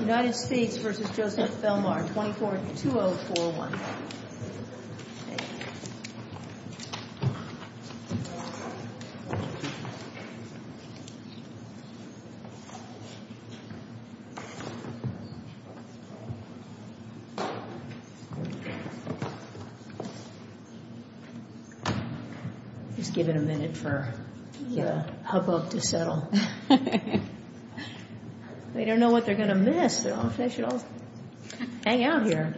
United States v. Joseph Belmar, 24-2041 Just give it a minute for the hubbub to settle. They don't know what they're going to miss. They should all hang out here.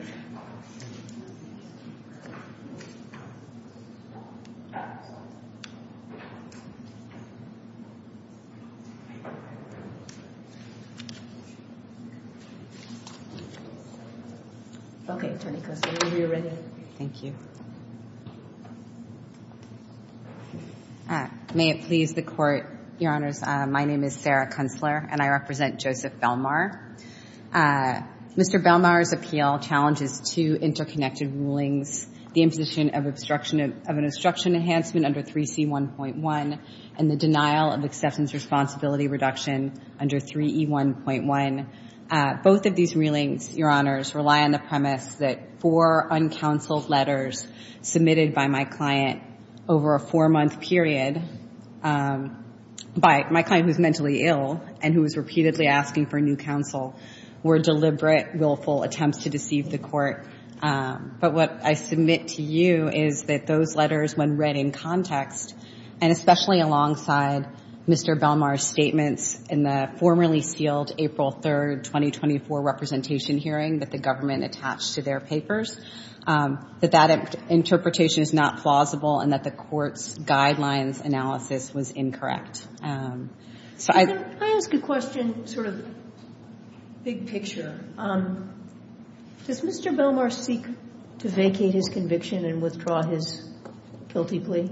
Thank you. May it please the court, your honors, my name is Sarah Kunstler and I represent the United States Department of Justice. I'm here to talk about the two reports The first one is the imposition of obstruction of an obstruction enhancement under 3C1.1 and the denial of acceptance responsibility reduction under 3E1.1. Both of these were deliberate, willful attempts to deceive the court. But what I submit to you is that those letters, when read in context, and especially alongside Mr. Belmar's statements in the formerly sealed April 3rd, 2024 representation hearing that the government attached to their papers, that that interpretation is not plausible and that the court's guidelines analysis was incorrect. I ask a question, sort of big picture. Does Mr. Belmar seek to vacate his conviction and withdraw his guilty plea?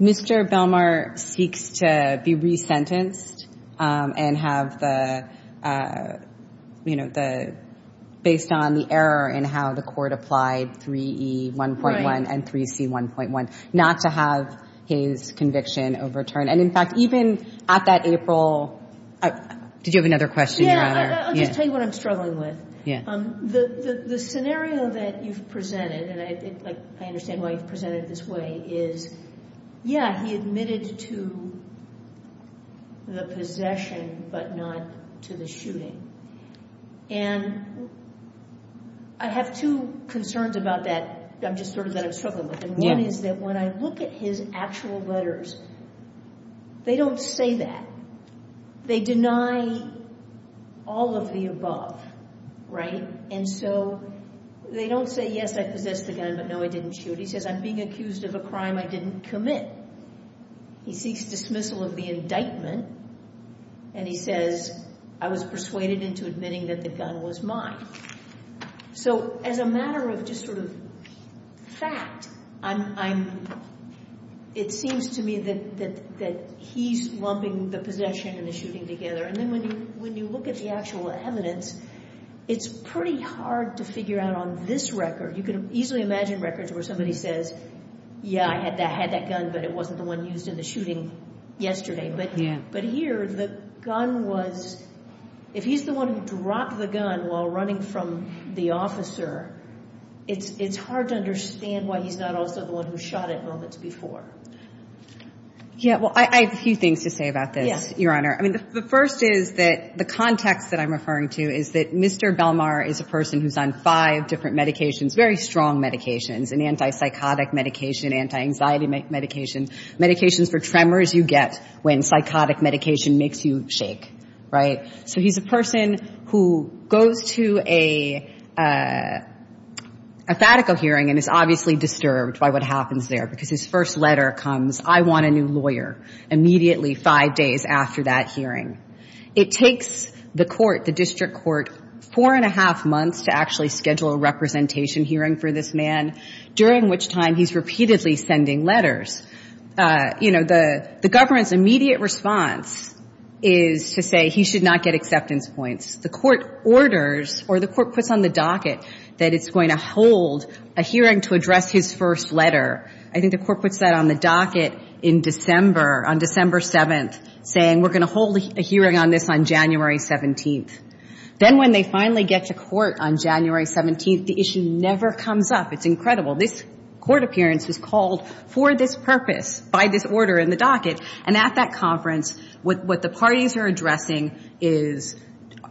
Mr. Belmar seeks to be resentenced and have the, based on the error in how the court applied 3E1.1 and 3C1.1, not to have his conviction overturned. And in fact, even at that April, did you have another question, your honor? I'll just tell you what I'm struggling with. The scenario that you've presented, and I understand why you've presented it this way, is yeah, he admitted to the possession, but not to the shooting. And I have two concerns about that. I'm just sort of that I'm struggling with. And one is that when I look at his actual letters, they don't say that. They deny all of the above, right? And so they don't say, yes, I possessed the gun, but no, I didn't shoot. He says, I'm being accused of a crime I didn't commit. He seeks dismissal of the indictment. And he says, I was persuaded into admitting that the gun was mine. So as a matter of just sort of fact, it seems to me that he's lumping the possession and the shooting together. And then when you look at the actual evidence, it's pretty hard to figure out on this record, you can easily imagine records where somebody says, yeah, I had that gun, but it wasn't the one used in the shooting yesterday. But here, the gun was, if he's the one who dropped the gun while running from the officer, it's hard to understand why he's not also the one who shot it moments before. Yeah, well, I have a few things to say about this, your honor. I mean, the first is that the context that I'm referring to is that Mr. Belmar is a person who's on five different medications, very strong medications, an anti-psychotic medication, anti-anxiety medication, medications for tremors you get when psychotic medication makes you shake, right? So he's a person who goes to a FATICO hearing and is obviously disturbed by what happens there because his first letter comes, I want a new lawyer, immediately five days after that hearing. It takes the court, the district court, four and a half months to actually schedule a representation hearing for this man, during which time he's repeatedly sending letters. You know, the government's immediate response is to say he should not get acceptance points. The court orders or the court puts on the docket that it's going to hold a hearing to address his first letter. I think the court puts that on the docket in December, on December 7th, saying we're going to hold a hearing on this on January 17th. Then when they finally get to court on January 17th, the issue never comes up. It's incredible. This court appearance was called for this purpose by this order in the docket. And at that conference, what the parties are addressing is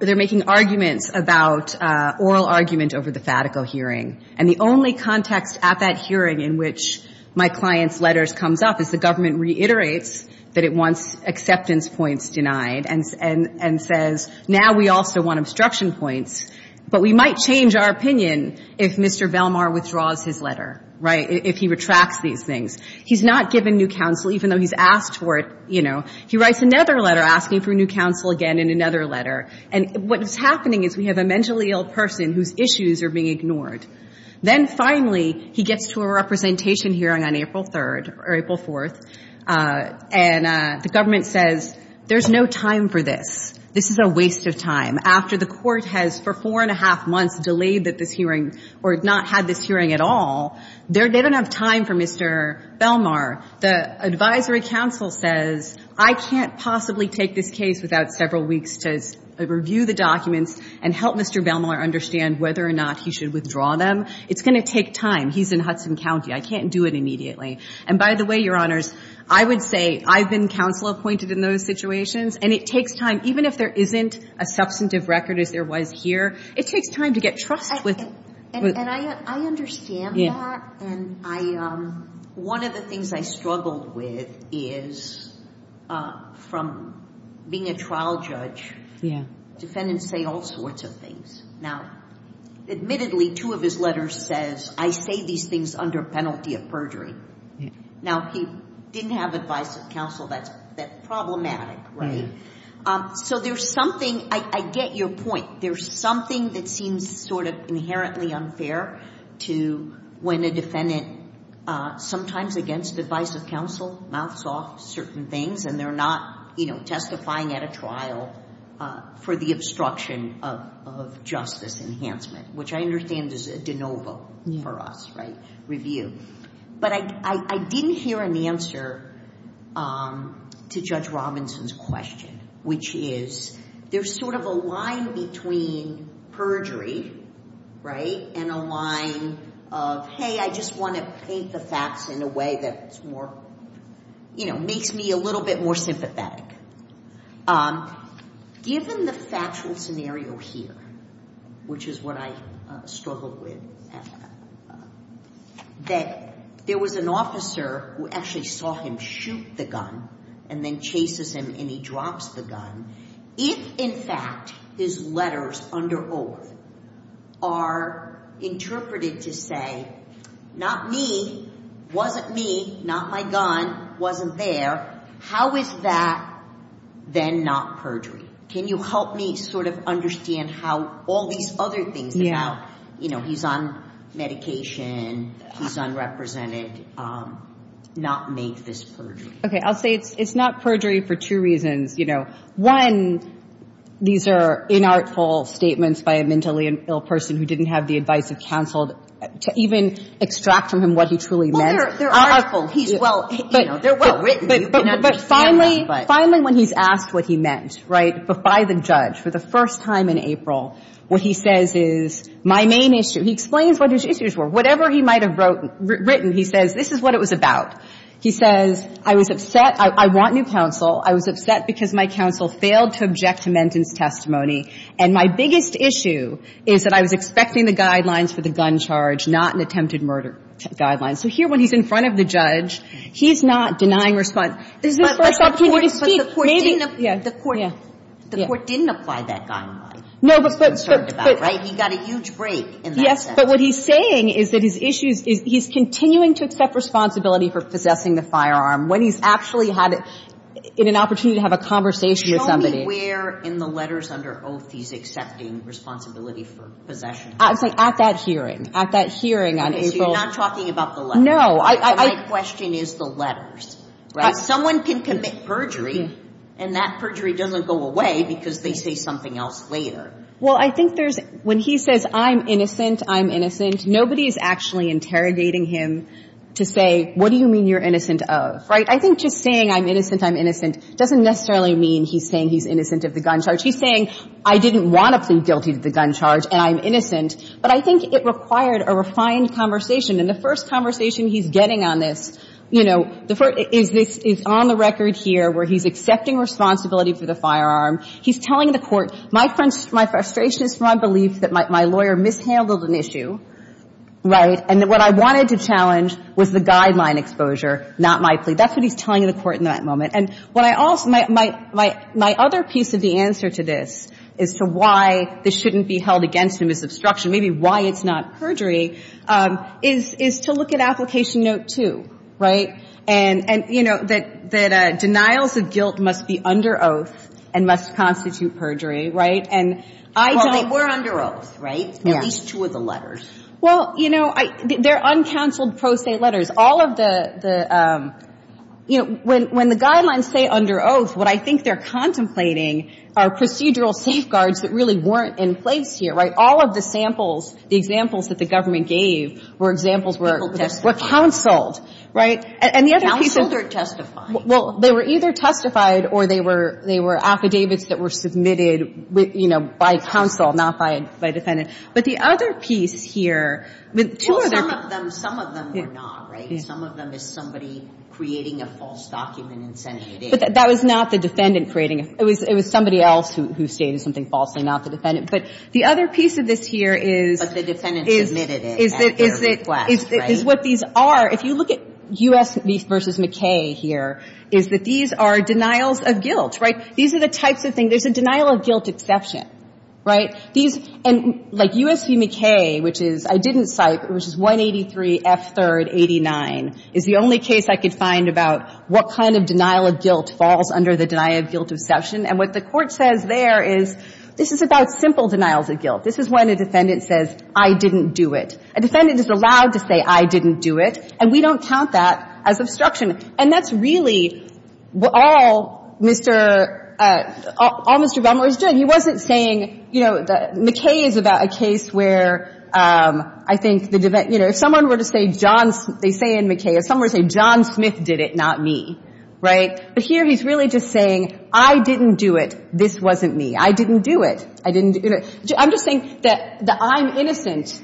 they're making arguments about oral argument over the FATICO hearing. And the only context at that hearing in which my client's letters comes up is the government reiterates that it wants acceptance points denied and says now we also want obstruction points, but we might change our opinion if Mr. Velmar withdraws his letter, right, if he retracts these things. He's not given new counsel, even though he's asked for it, you know. He writes another letter asking for new counsel again in another letter. And what is happening is we have a mentally ill person whose issues are being ignored. Then finally he gets to a representation hearing on April 3rd or April 4th, and the government says there's no time for this. This is a waste of time. After the court has for four and a half months delayed this hearing or not had this hearing at all, they don't have time for Mr. Velmar. The advisory counsel says I can't possibly take this case without several weeks to review the documents and help Mr. Velmar understand whether or not he should withdraw them. It's going to take time. He's in Hudson County. I can't do it immediately. And by the way, Your Honors, I would say I've been counsel-appointed in those situations, and it takes time. Even if there isn't a substantive record as there was here, it takes time to get trust with the ---- And I understand that. And one of the things I struggled with is from being a trial judge, defendants say all sorts of things. Now, admittedly, two of his letters says, I say these things under penalty of perjury. Now, he didn't have advice of counsel that's problematic, right? So there's something ---- I get your point. There's something that seems sort of inherently unfair to when a defendant, sometimes against advice of counsel, mouths off certain things, and they're not testifying at a trial for the obstruction of justice enhancement, which I understand is a de novo for us, right, review. But I didn't hear an answer to Judge Robinson's question, which is there's sort of a line between perjury, right, and a line of, hey, I just want to paint the facts in a way that's more, you know, makes me a little bit more sympathetic. Given the factual scenario here, which is what I struggled with, that there was an officer who actually saw him shoot the gun and then chases him and he drops the gun, if, in fact, his letters under oath are interpreted to say, not me, wasn't me, not my gun, wasn't there, how is that then not perjury? Can you help me sort of understand how all these other things about, you know, he's on medication, he's unrepresented, not make this perjury? Okay. I'll say it's not perjury for two reasons, you know. One, these are inartful statements by a mentally ill person who didn't have the advice of counsel to even extract from him what he truly meant. Well, they're artful. He's well, you know, they're well written. But finally, when he's asked what he meant, right, by the judge for the first time in April, what he says is, my main issue, he explains what his issues were. Whatever he might have written, he says, this is what it was about. He says, I was upset. I want new counsel. I was upset because my counsel failed to object to Mendon's testimony. And my biggest issue is that I was expecting the guidelines for the gun charge, not an attempted murder guideline. So here, when he's in front of the judge, he's not denying response. This is the first opportunity to speak. Maybe, yeah. The court didn't apply that guideline. No, but. He got a huge break in that sentence. Yes, but what he's saying is that his issues, he's continuing to accept responsibility for possessing the firearm when he's actually had an opportunity to have a conversation with somebody. Show me where in the letters under oath he's accepting responsibility for possession of the firearm. At that hearing. At that hearing on April. So you're not talking about the letters. No. My question is the letters, right? Someone can commit perjury, and that perjury doesn't go away because they say something else later. Well, I think there's, when he says, I'm innocent, I'm innocent, nobody is actually interrogating him to say, what do you mean you're innocent of, right? I think just saying, I'm innocent, I'm innocent, doesn't necessarily mean he's saying he's innocent of the gun charge. He's saying, I didn't want to plead guilty to the gun charge, and I'm innocent. But I think it required a refined conversation. And the first conversation he's getting on this, you know, is on the record here where he's accepting responsibility for the firearm. He's telling the Court, my frustration is from my belief that my lawyer mishandled an issue, right, and that what I wanted to challenge was the guideline exposure, not my plea. That's what he's telling the Court in that moment. And what I also, my other piece of the answer to this is to why this shouldn't be held against him as obstruction, maybe why it's not perjury, is to look at Application Note 2, right? And, you know, that denials of guilt must be under oath and must constitute perjury, right? And I don't Well, they were under oath, right? Yeah. At least two of the letters. Well, you know, they're uncounseled pro se letters. All of the, you know, when the guidelines say under oath, what I think they're But the other piece here, right, all of the samples, the examples that the government gave were examples were counseled, right? And the other people Counseled or testified. Well, they were either testified or they were, they were affidavits that were submitted, you know, by counsel, not by defendant. But the other piece here, two other Well, some of them, some of them were not, right? Some of them is somebody creating a false document and sending it in. But that was not the defendant creating it. It was somebody else who stated something falsely, not the defendant. But the other piece of this here is But the defendant submitted it at their request, right? Is what these are. If you look at U.S. v. McKay here, is that these are denials of guilt, right? These are the types of things, there's a denial of guilt exception, right? These, and like U.S. v. McKay, which is, I didn't cite, but which is 183 F. 3rd 89, is the only case I could find about what kind of denial of guilt falls under the denial of guilt exception. And what the Court says there is, this is about simple denials of guilt. This is when a defendant says, I didn't do it. A defendant is allowed to say, I didn't do it. And we don't count that as obstruction. And that's really all Mr. Bumler is doing. He wasn't saying, you know, McKay is about a case where I think the, you know, if someone were to say John, they say in McKay, if someone were to say John Smith did it, not me, right? But here he's really just saying, I didn't do it. This wasn't me. I didn't do it. I didn't do it. I'm just saying that the I'm innocent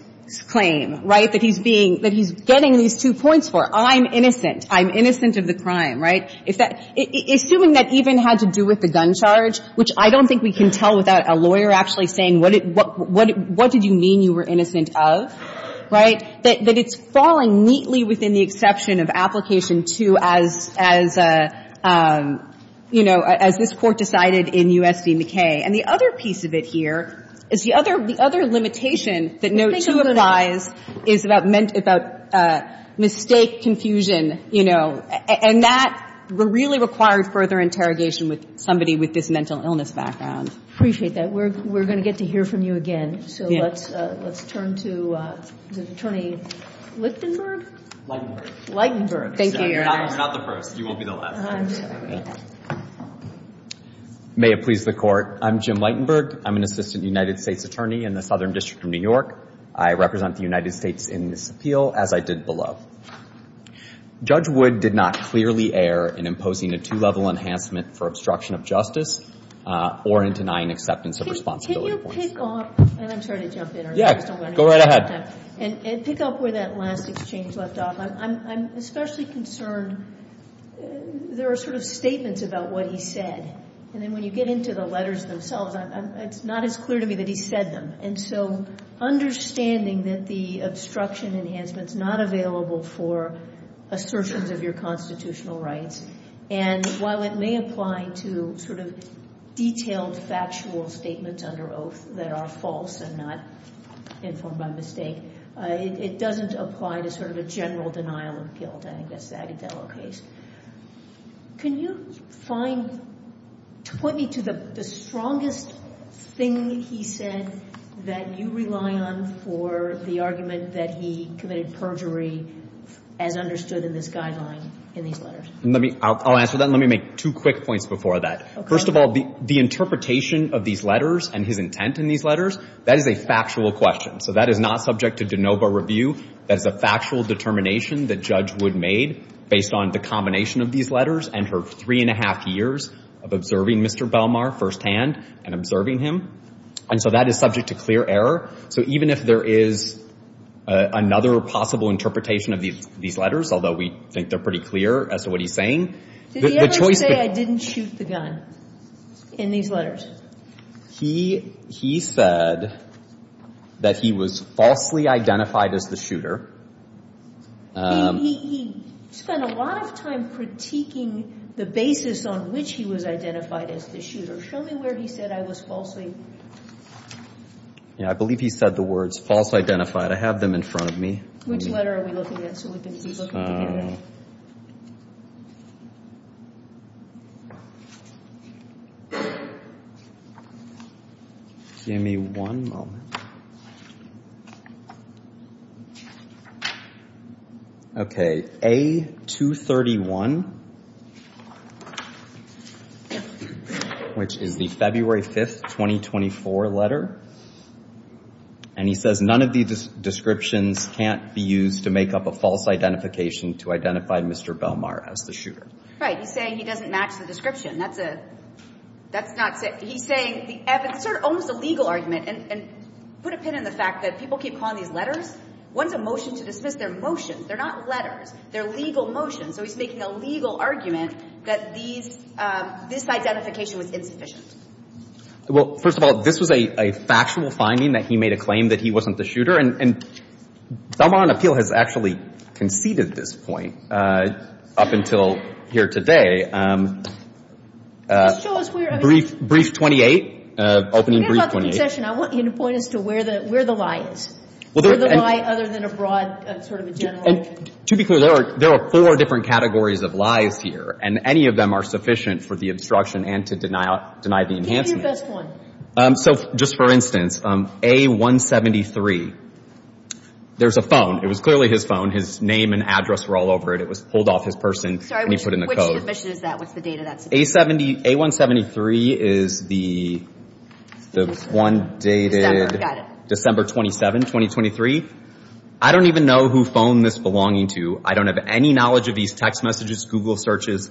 claim, right, that he's being, that he's getting these two points for, I'm innocent, I'm innocent of the crime, right? Assuming that even had to do with the gun charge, which I don't think we can tell without a lawyer actually saying what did you mean you were innocent of, right, that it's falling neatly within the exception of application 2 as, as, you know, as this Court decided in U.S. v. McKay. And the other piece of it here is the other limitation that note 2 applies is about mistake confusion, you know, and that really required further interrogation with somebody with this mental illness background. I appreciate that. We're going to get to hear from you again. So let's, let's turn to the Attorney Lichtenberg. Thank you, Your Honor. You're not the first. You won't be the last. I'm sorry. May it please the Court. I'm Jim Lichtenberg. I'm an Assistant United States Attorney in the Southern District of New York. I represent the United States in this appeal as I did below. Judge Wood did not clearly err in imposing a two-level enhancement for obstruction of justice or in denying acceptance of responsibility. Can you pick up, and I'm sorry to jump in. Yeah. Go right ahead. And pick up where that last exchange left off. I'm especially concerned there are sort of statements about what he said, and then when you get into the letters themselves, it's not as clear to me that he said them. And so understanding that the obstruction enhancement's not available for assertions of your constitutional rights, and while it may apply to sort of detailed, factual statements under oath that are false and not informed by mistake, it doesn't apply to sort of a general denial of guilt. I think that's the Agudelo case. Can you find, point me to the strongest thing he said that you rely on for the argument that he committed perjury as understood in this guideline in these letters? I'll answer that, and let me make two quick points before that. Okay. First of all, the interpretation of these letters and his intent in these letters, that is a factual question. So that is not subject to de novo review. That is a factual determination that Judge Wood made based on the combination of these letters and her three-and-a-half years of observing Mr. Belmar firsthand and observing him. And so that is subject to clear error. So even if there is another possible interpretation of these letters, although we think they're pretty clear as to what he's saying. Did he ever say I didn't shoot the gun in these letters? He said that he was falsely identified as the shooter. He spent a lot of time critiquing the basis on which he was identified as the shooter. Show me where he said I was falsely. I believe he said the words false identified. I have them in front of me. Which letter are we looking at? So we can keep looking. I don't know. Give me one moment. Okay, A231, which is the February 5th, 2024 letter. And he says none of these descriptions can't be used to make up a false identification to identify Mr. Belmar as the shooter. He's saying he doesn't match the description. That's a – that's not – he's saying the – it's sort of almost a legal argument. And put a pin in the fact that people keep calling these letters. One's a motion to dismiss. They're motions. They're not letters. They're legal motions. So he's making a legal argument that these – this identification was insufficient. Well, first of all, this was a factual finding that he made a claim that he wasn't the shooter. And Belmar on appeal has actually conceded this point up until here today. Just show us where – I mean – Brief 28, opening brief 28. We're talking about the concession. I want you to point us to where the lie is. Where the lie, other than a broad sort of a general – And to be clear, there are four different categories of lies here. And any of them are sufficient for the obstruction and to deny the enhancement. Give your best one. So just for instance, A-173. There's a phone. It was clearly his phone. His name and address were all over it. It was pulled off his person when he put in the code. Sorry, which admission is that? What's the date of that submission? A-173 is the one dated December 27, 2023. I don't even know who phoned this belonging to. I don't have any knowledge of these text messages, Google searches,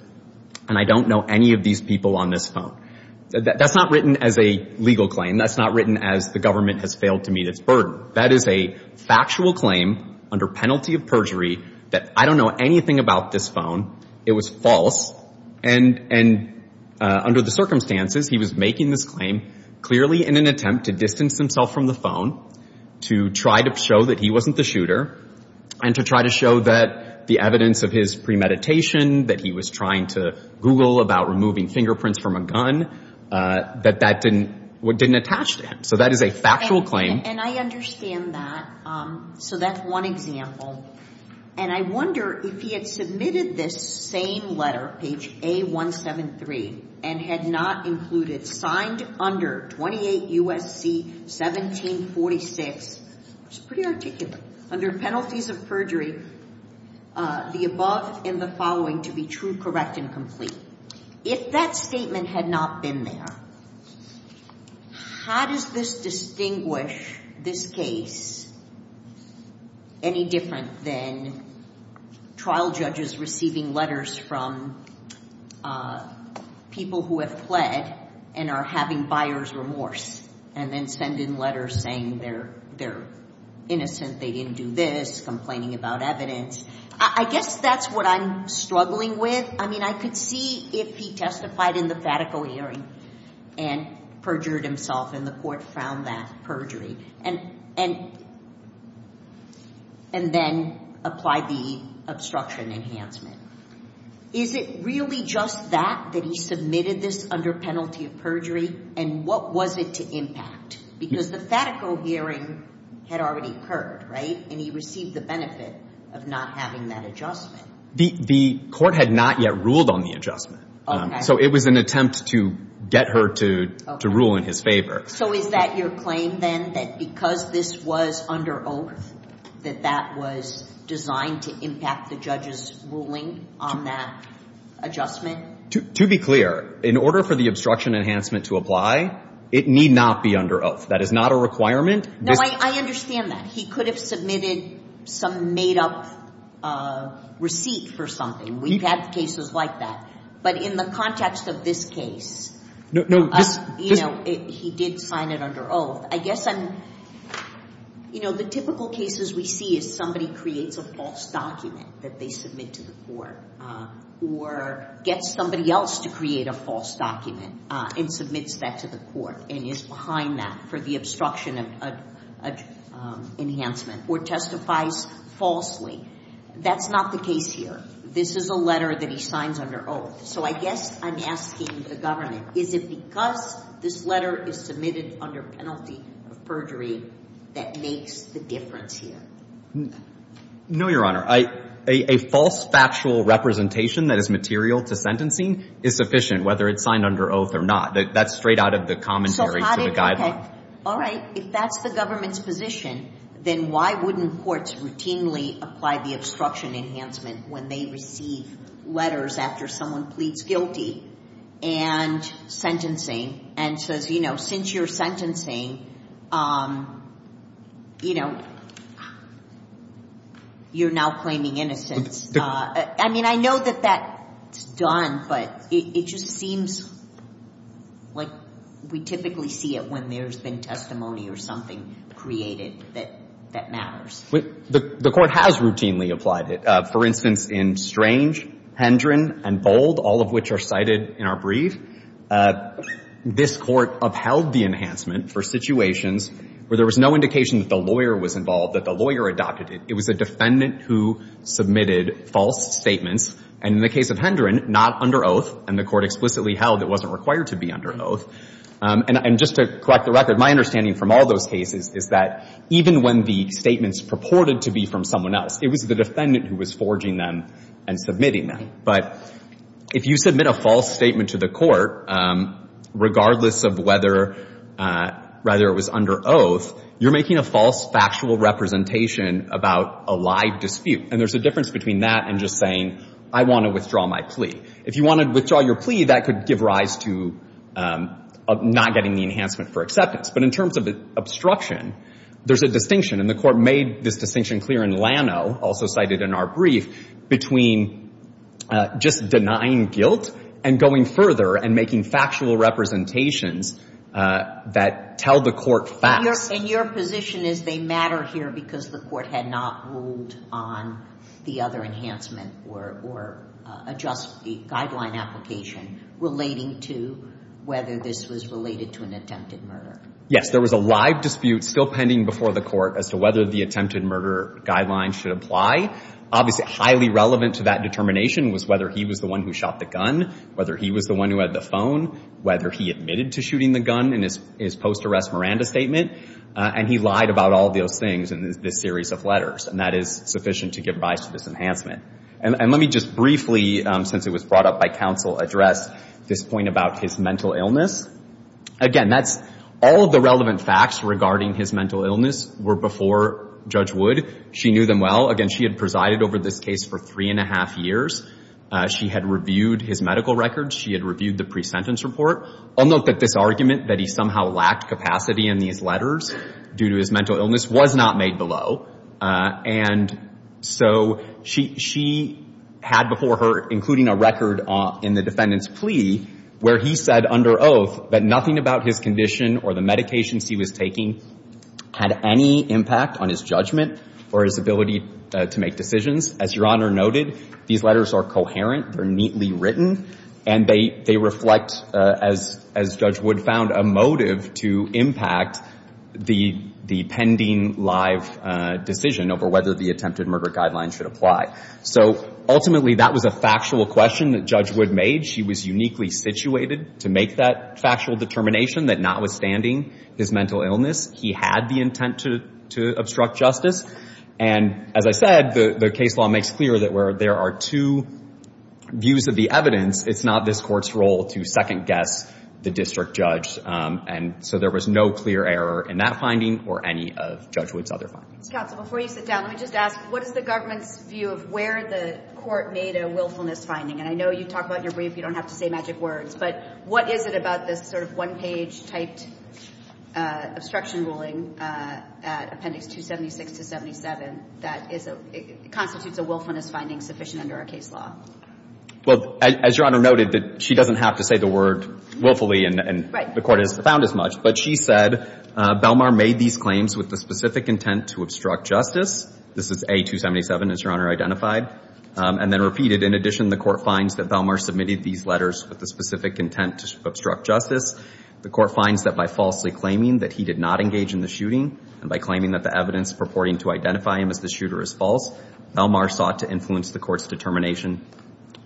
and I don't know any of these people on this phone. That's not written as a legal claim. That's not written as the government has failed to meet its burden. That is a factual claim under penalty of perjury that I don't know anything about this phone. It was false. And under the circumstances, he was making this claim clearly in an attempt to distance himself from the phone, to try to show that he wasn't the shooter, and to try to show that the evidence of his premeditation, that he was trying to Google about removing fingerprints from a gun, that that didn't attach to him. So that is a factual claim. And I understand that. So that's one example. And I wonder if he had submitted this same letter, page A-173, and had not included, signed under 28 U.S.C. 1746, which is pretty articulate, under penalties of perjury, the above and the following to be true, correct, and complete. If that statement had not been there, how does this distinguish this case any different than trial judges receiving letters from people who have fled and are having buyer's remorse, and then send in letters saying they're innocent, they didn't do this, complaining about evidence. I guess that's what I'm struggling with. I mean, I could see if he testified in the FATICO hearing and perjured himself, and the court found that perjury, and then applied the obstruction enhancement. Is it really just that, that he submitted this under penalty of perjury? And what was it to impact? Because the FATICO hearing had already occurred, right? And he received the benefit of not having that adjustment. The court had not yet ruled on the adjustment. So it was an attempt to get her to rule in his favor. So is that your claim, then, that because this was under oath, that that was designed to impact the judge's ruling on that adjustment? To be clear, in order for the obstruction enhancement to apply, it need not be under oath. That is not a requirement. No, I understand that. He could have submitted some made-up receipt for something. We've had cases like that. But in the context of this case, he did sign it under oath. I guess the typical cases we see is somebody creates a false document that they submit to the court, or gets somebody else to create a false document and submits that to the court and is behind that for the obstruction enhancement, or testifies falsely. That's not the case here. This is a letter that he signs under oath. So I guess I'm asking the government, is it because this letter is submitted under penalty of perjury that makes the difference here? No, Your Honor. A false factual representation that is material to sentencing is sufficient, whether it's signed under oath or not. That's straight out of the commentary to the guideline. All right. If that's the government's position, then why wouldn't courts routinely apply the obstruction enhancement when they receive letters after someone pleads guilty and sentencing and says, you know, since you're sentencing, you know, you're now claiming innocence. I mean, I know that that's done, but it just seems like we typically see it when there's been testimony or something created that matters. The Court has routinely applied it. For instance, in Strange, Hendren, and Bold, all of which are cited in our brief, this Court upheld the enhancement for situations where there was no indication that the lawyer was involved, that the lawyer adopted it. It was a defendant who submitted false statements. And in the case of Hendren, not under oath, and the Court explicitly held it wasn't required to be under oath. And just to correct the record, my understanding from all those cases is that even when the statements purported to be from someone else, it was the defendant who was forging them and submitting them. But if you submit a false statement to the Court, regardless of whether it was under oath, you're making a false factual representation about a live dispute. And there's a difference between that and just saying, I want to withdraw my plea. If you want to withdraw your plea, that could give rise to not getting the enhancement for acceptance. But in terms of obstruction, there's a distinction, and the Court made this distinction clear in Lano, also cited in our brief, between just denying guilt and going further and making factual representations that tell the Court facts. And your position is they matter here because the Court had not ruled on the other enhancement or adjust the guideline application relating to whether this was related to an attempted murder. Yes, there was a live dispute still pending before the Court as to whether the attempted murder guideline should apply. Obviously, highly relevant to that determination was whether he was the one who shot the gun, whether he was the one who had the phone, whether he admitted to shooting the gun in his post-arrest Miranda statement. And he lied about all of those things in this series of letters, and that is sufficient to give rise to this enhancement. And let me just briefly, since it was brought up by counsel, address this point about his mental illness. Again, that's all of the relevant facts regarding his mental illness were before Judge Wood. She knew them well. Again, she had presided over this case for three and a half years. She had reviewed his medical records. She had reviewed the pre-sentence report. I'll note that this argument that he somehow lacked capacity in these letters due to his mental illness was not made below. And so she had before her, including a record in the defendant's plea, where he said under oath that nothing about his condition or the medications he was taking had any impact on his judgment or his ability to make decisions. As Your Honor noted, these letters are coherent. They're neatly written, and they reflect, as Judge Wood found, a motive to impact the pending live decision over whether the attempted murder guideline should apply. So ultimately, that was a factual question that Judge Wood made. She was uniquely situated to make that factual determination that notwithstanding his mental illness, he had the intent to obstruct justice. And as I said, the case law makes clear that where there are two views of the evidence, it's not this Court's role to second-guess the district judge. And so there was no clear error in that finding or any of Judge Wood's other findings. Counsel, before you sit down, let me just ask, what is the government's view of where the Court made a willfulness finding? And I know you talk about it in your brief. You don't have to say magic words. But what is it about this sort of one-page-typed obstruction ruling at Appendix 276 to 77 that constitutes a willfulness finding sufficient under our case law? Well, as Your Honor noted, she doesn't have to say the word willfully, and the Court hasn't found as much. But she said Belmar made these claims with the specific intent to obstruct justice. This is A. 277, as Your Honor identified, and then repeated. In addition, the Court finds that Belmar submitted these letters with the specific intent to obstruct justice. The Court finds that by falsely claiming that he did not engage in the shooting and by claiming that the evidence purporting to identify him as the shooter is false, Belmar sought to influence the Court's determination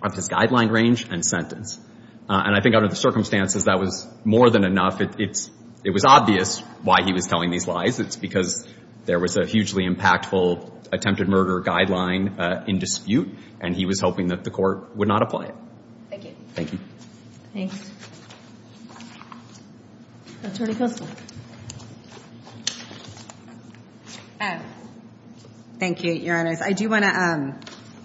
of his guideline range and sentence. And I think under the circumstances, that was more than enough. It was obvious why he was telling these lies. It's because there was a hugely impactful attempted murder guideline in dispute, and he was hoping that the Court would not apply it. Thank you. Thanks. Attorney Kissel. Thank you, Your Honors. I do want to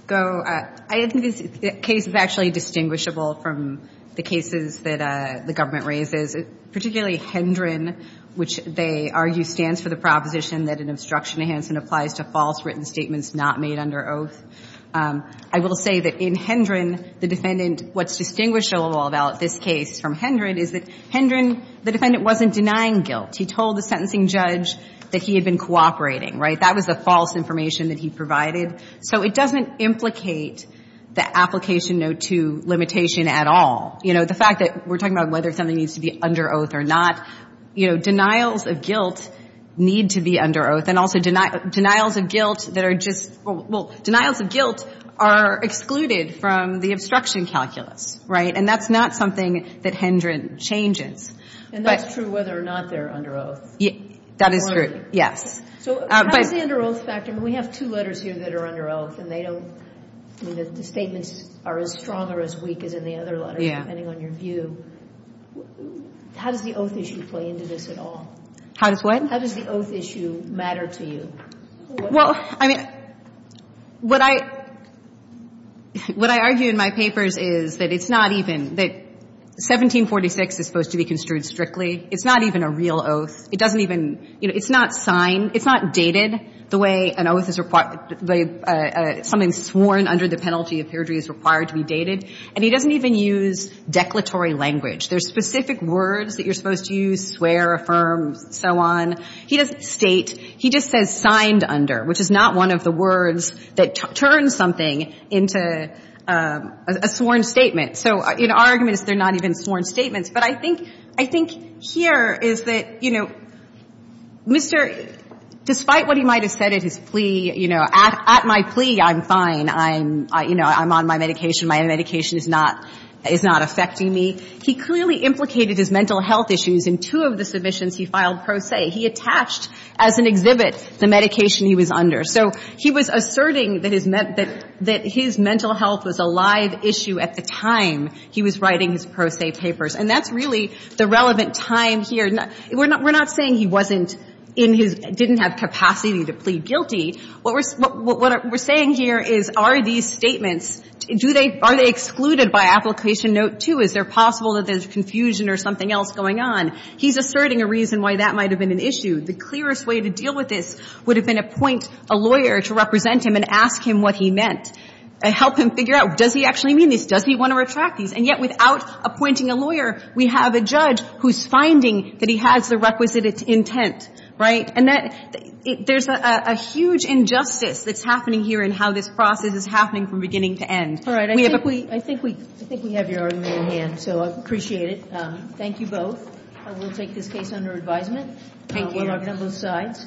go. I think this case is actually distinguishable from the cases that the government raises, particularly Hendren, which they argue stands for the proposition that an obstruction enhancement applies to false written statements not made under oath. I will say that in Hendren, the defendant, what's distinguishable about this case from Hendren is that Hendren, the defendant wasn't denying guilt. He told the sentencing judge that he had been cooperating, right? That was the false information that he provided. So it doesn't implicate the application no. 2 limitation at all. You know, the fact that we're talking about whether something needs to be under oath or not, you know, denials of guilt need to be under oath. But then also denials of guilt that are just, well, denials of guilt are excluded from the obstruction calculus. Right? And that's not something that Hendren changes. And that's true whether or not they're under oath. That is true. Yes. So how does the under oath factor, and we have two letters here that are under oath, and they don't, I mean, the statements are as strong or as weak as in the other letter, depending on your view. How does the oath issue play into this at all? How does what? How does the oath issue matter to you? Well, I mean, what I argue in my papers is that it's not even, that 1746 is supposed to be construed strictly. It's not even a real oath. It doesn't even, you know, it's not signed. It's not dated the way an oath is, something sworn under the penalty of perjury is required to be dated. And he doesn't even use declaratory language. There's specific words that you're supposed to use, swear, affirm, so on. He doesn't state. He just says signed under, which is not one of the words that turns something into a sworn statement. So, you know, our argument is they're not even sworn statements. But I think here is that, you know, Mr. — despite what he might have said at his plea, you know, at my plea, I'm fine. I'm, you know, I'm on my medication. My medication is not affecting me. He clearly implicated his mental health issues. In two of the submissions he filed pro se, he attached as an exhibit the medication he was under. So he was asserting that his mental health was a live issue at the time he was writing his pro se papers. And that's really the relevant time here. We're not saying he wasn't in his — didn't have capacity to plead guilty. What we're saying here is are these statements, do they, are they excluded by Application Note 2? Is there possible that there's confusion or something else going on? He's asserting a reason why that might have been an issue. The clearest way to deal with this would have been appoint a lawyer to represent him and ask him what he meant, help him figure out, does he actually mean this? Does he want to retract these? And yet, without appointing a lawyer, we have a judge who's finding that he has the requisite intent, right? And that — there's a huge injustice that's happening here in how this process is happening from beginning to end. All right. I think we have your argument in hand, so I appreciate it. Thank you both. We'll take this case under advisement. Thank you. We'll argue on both sides.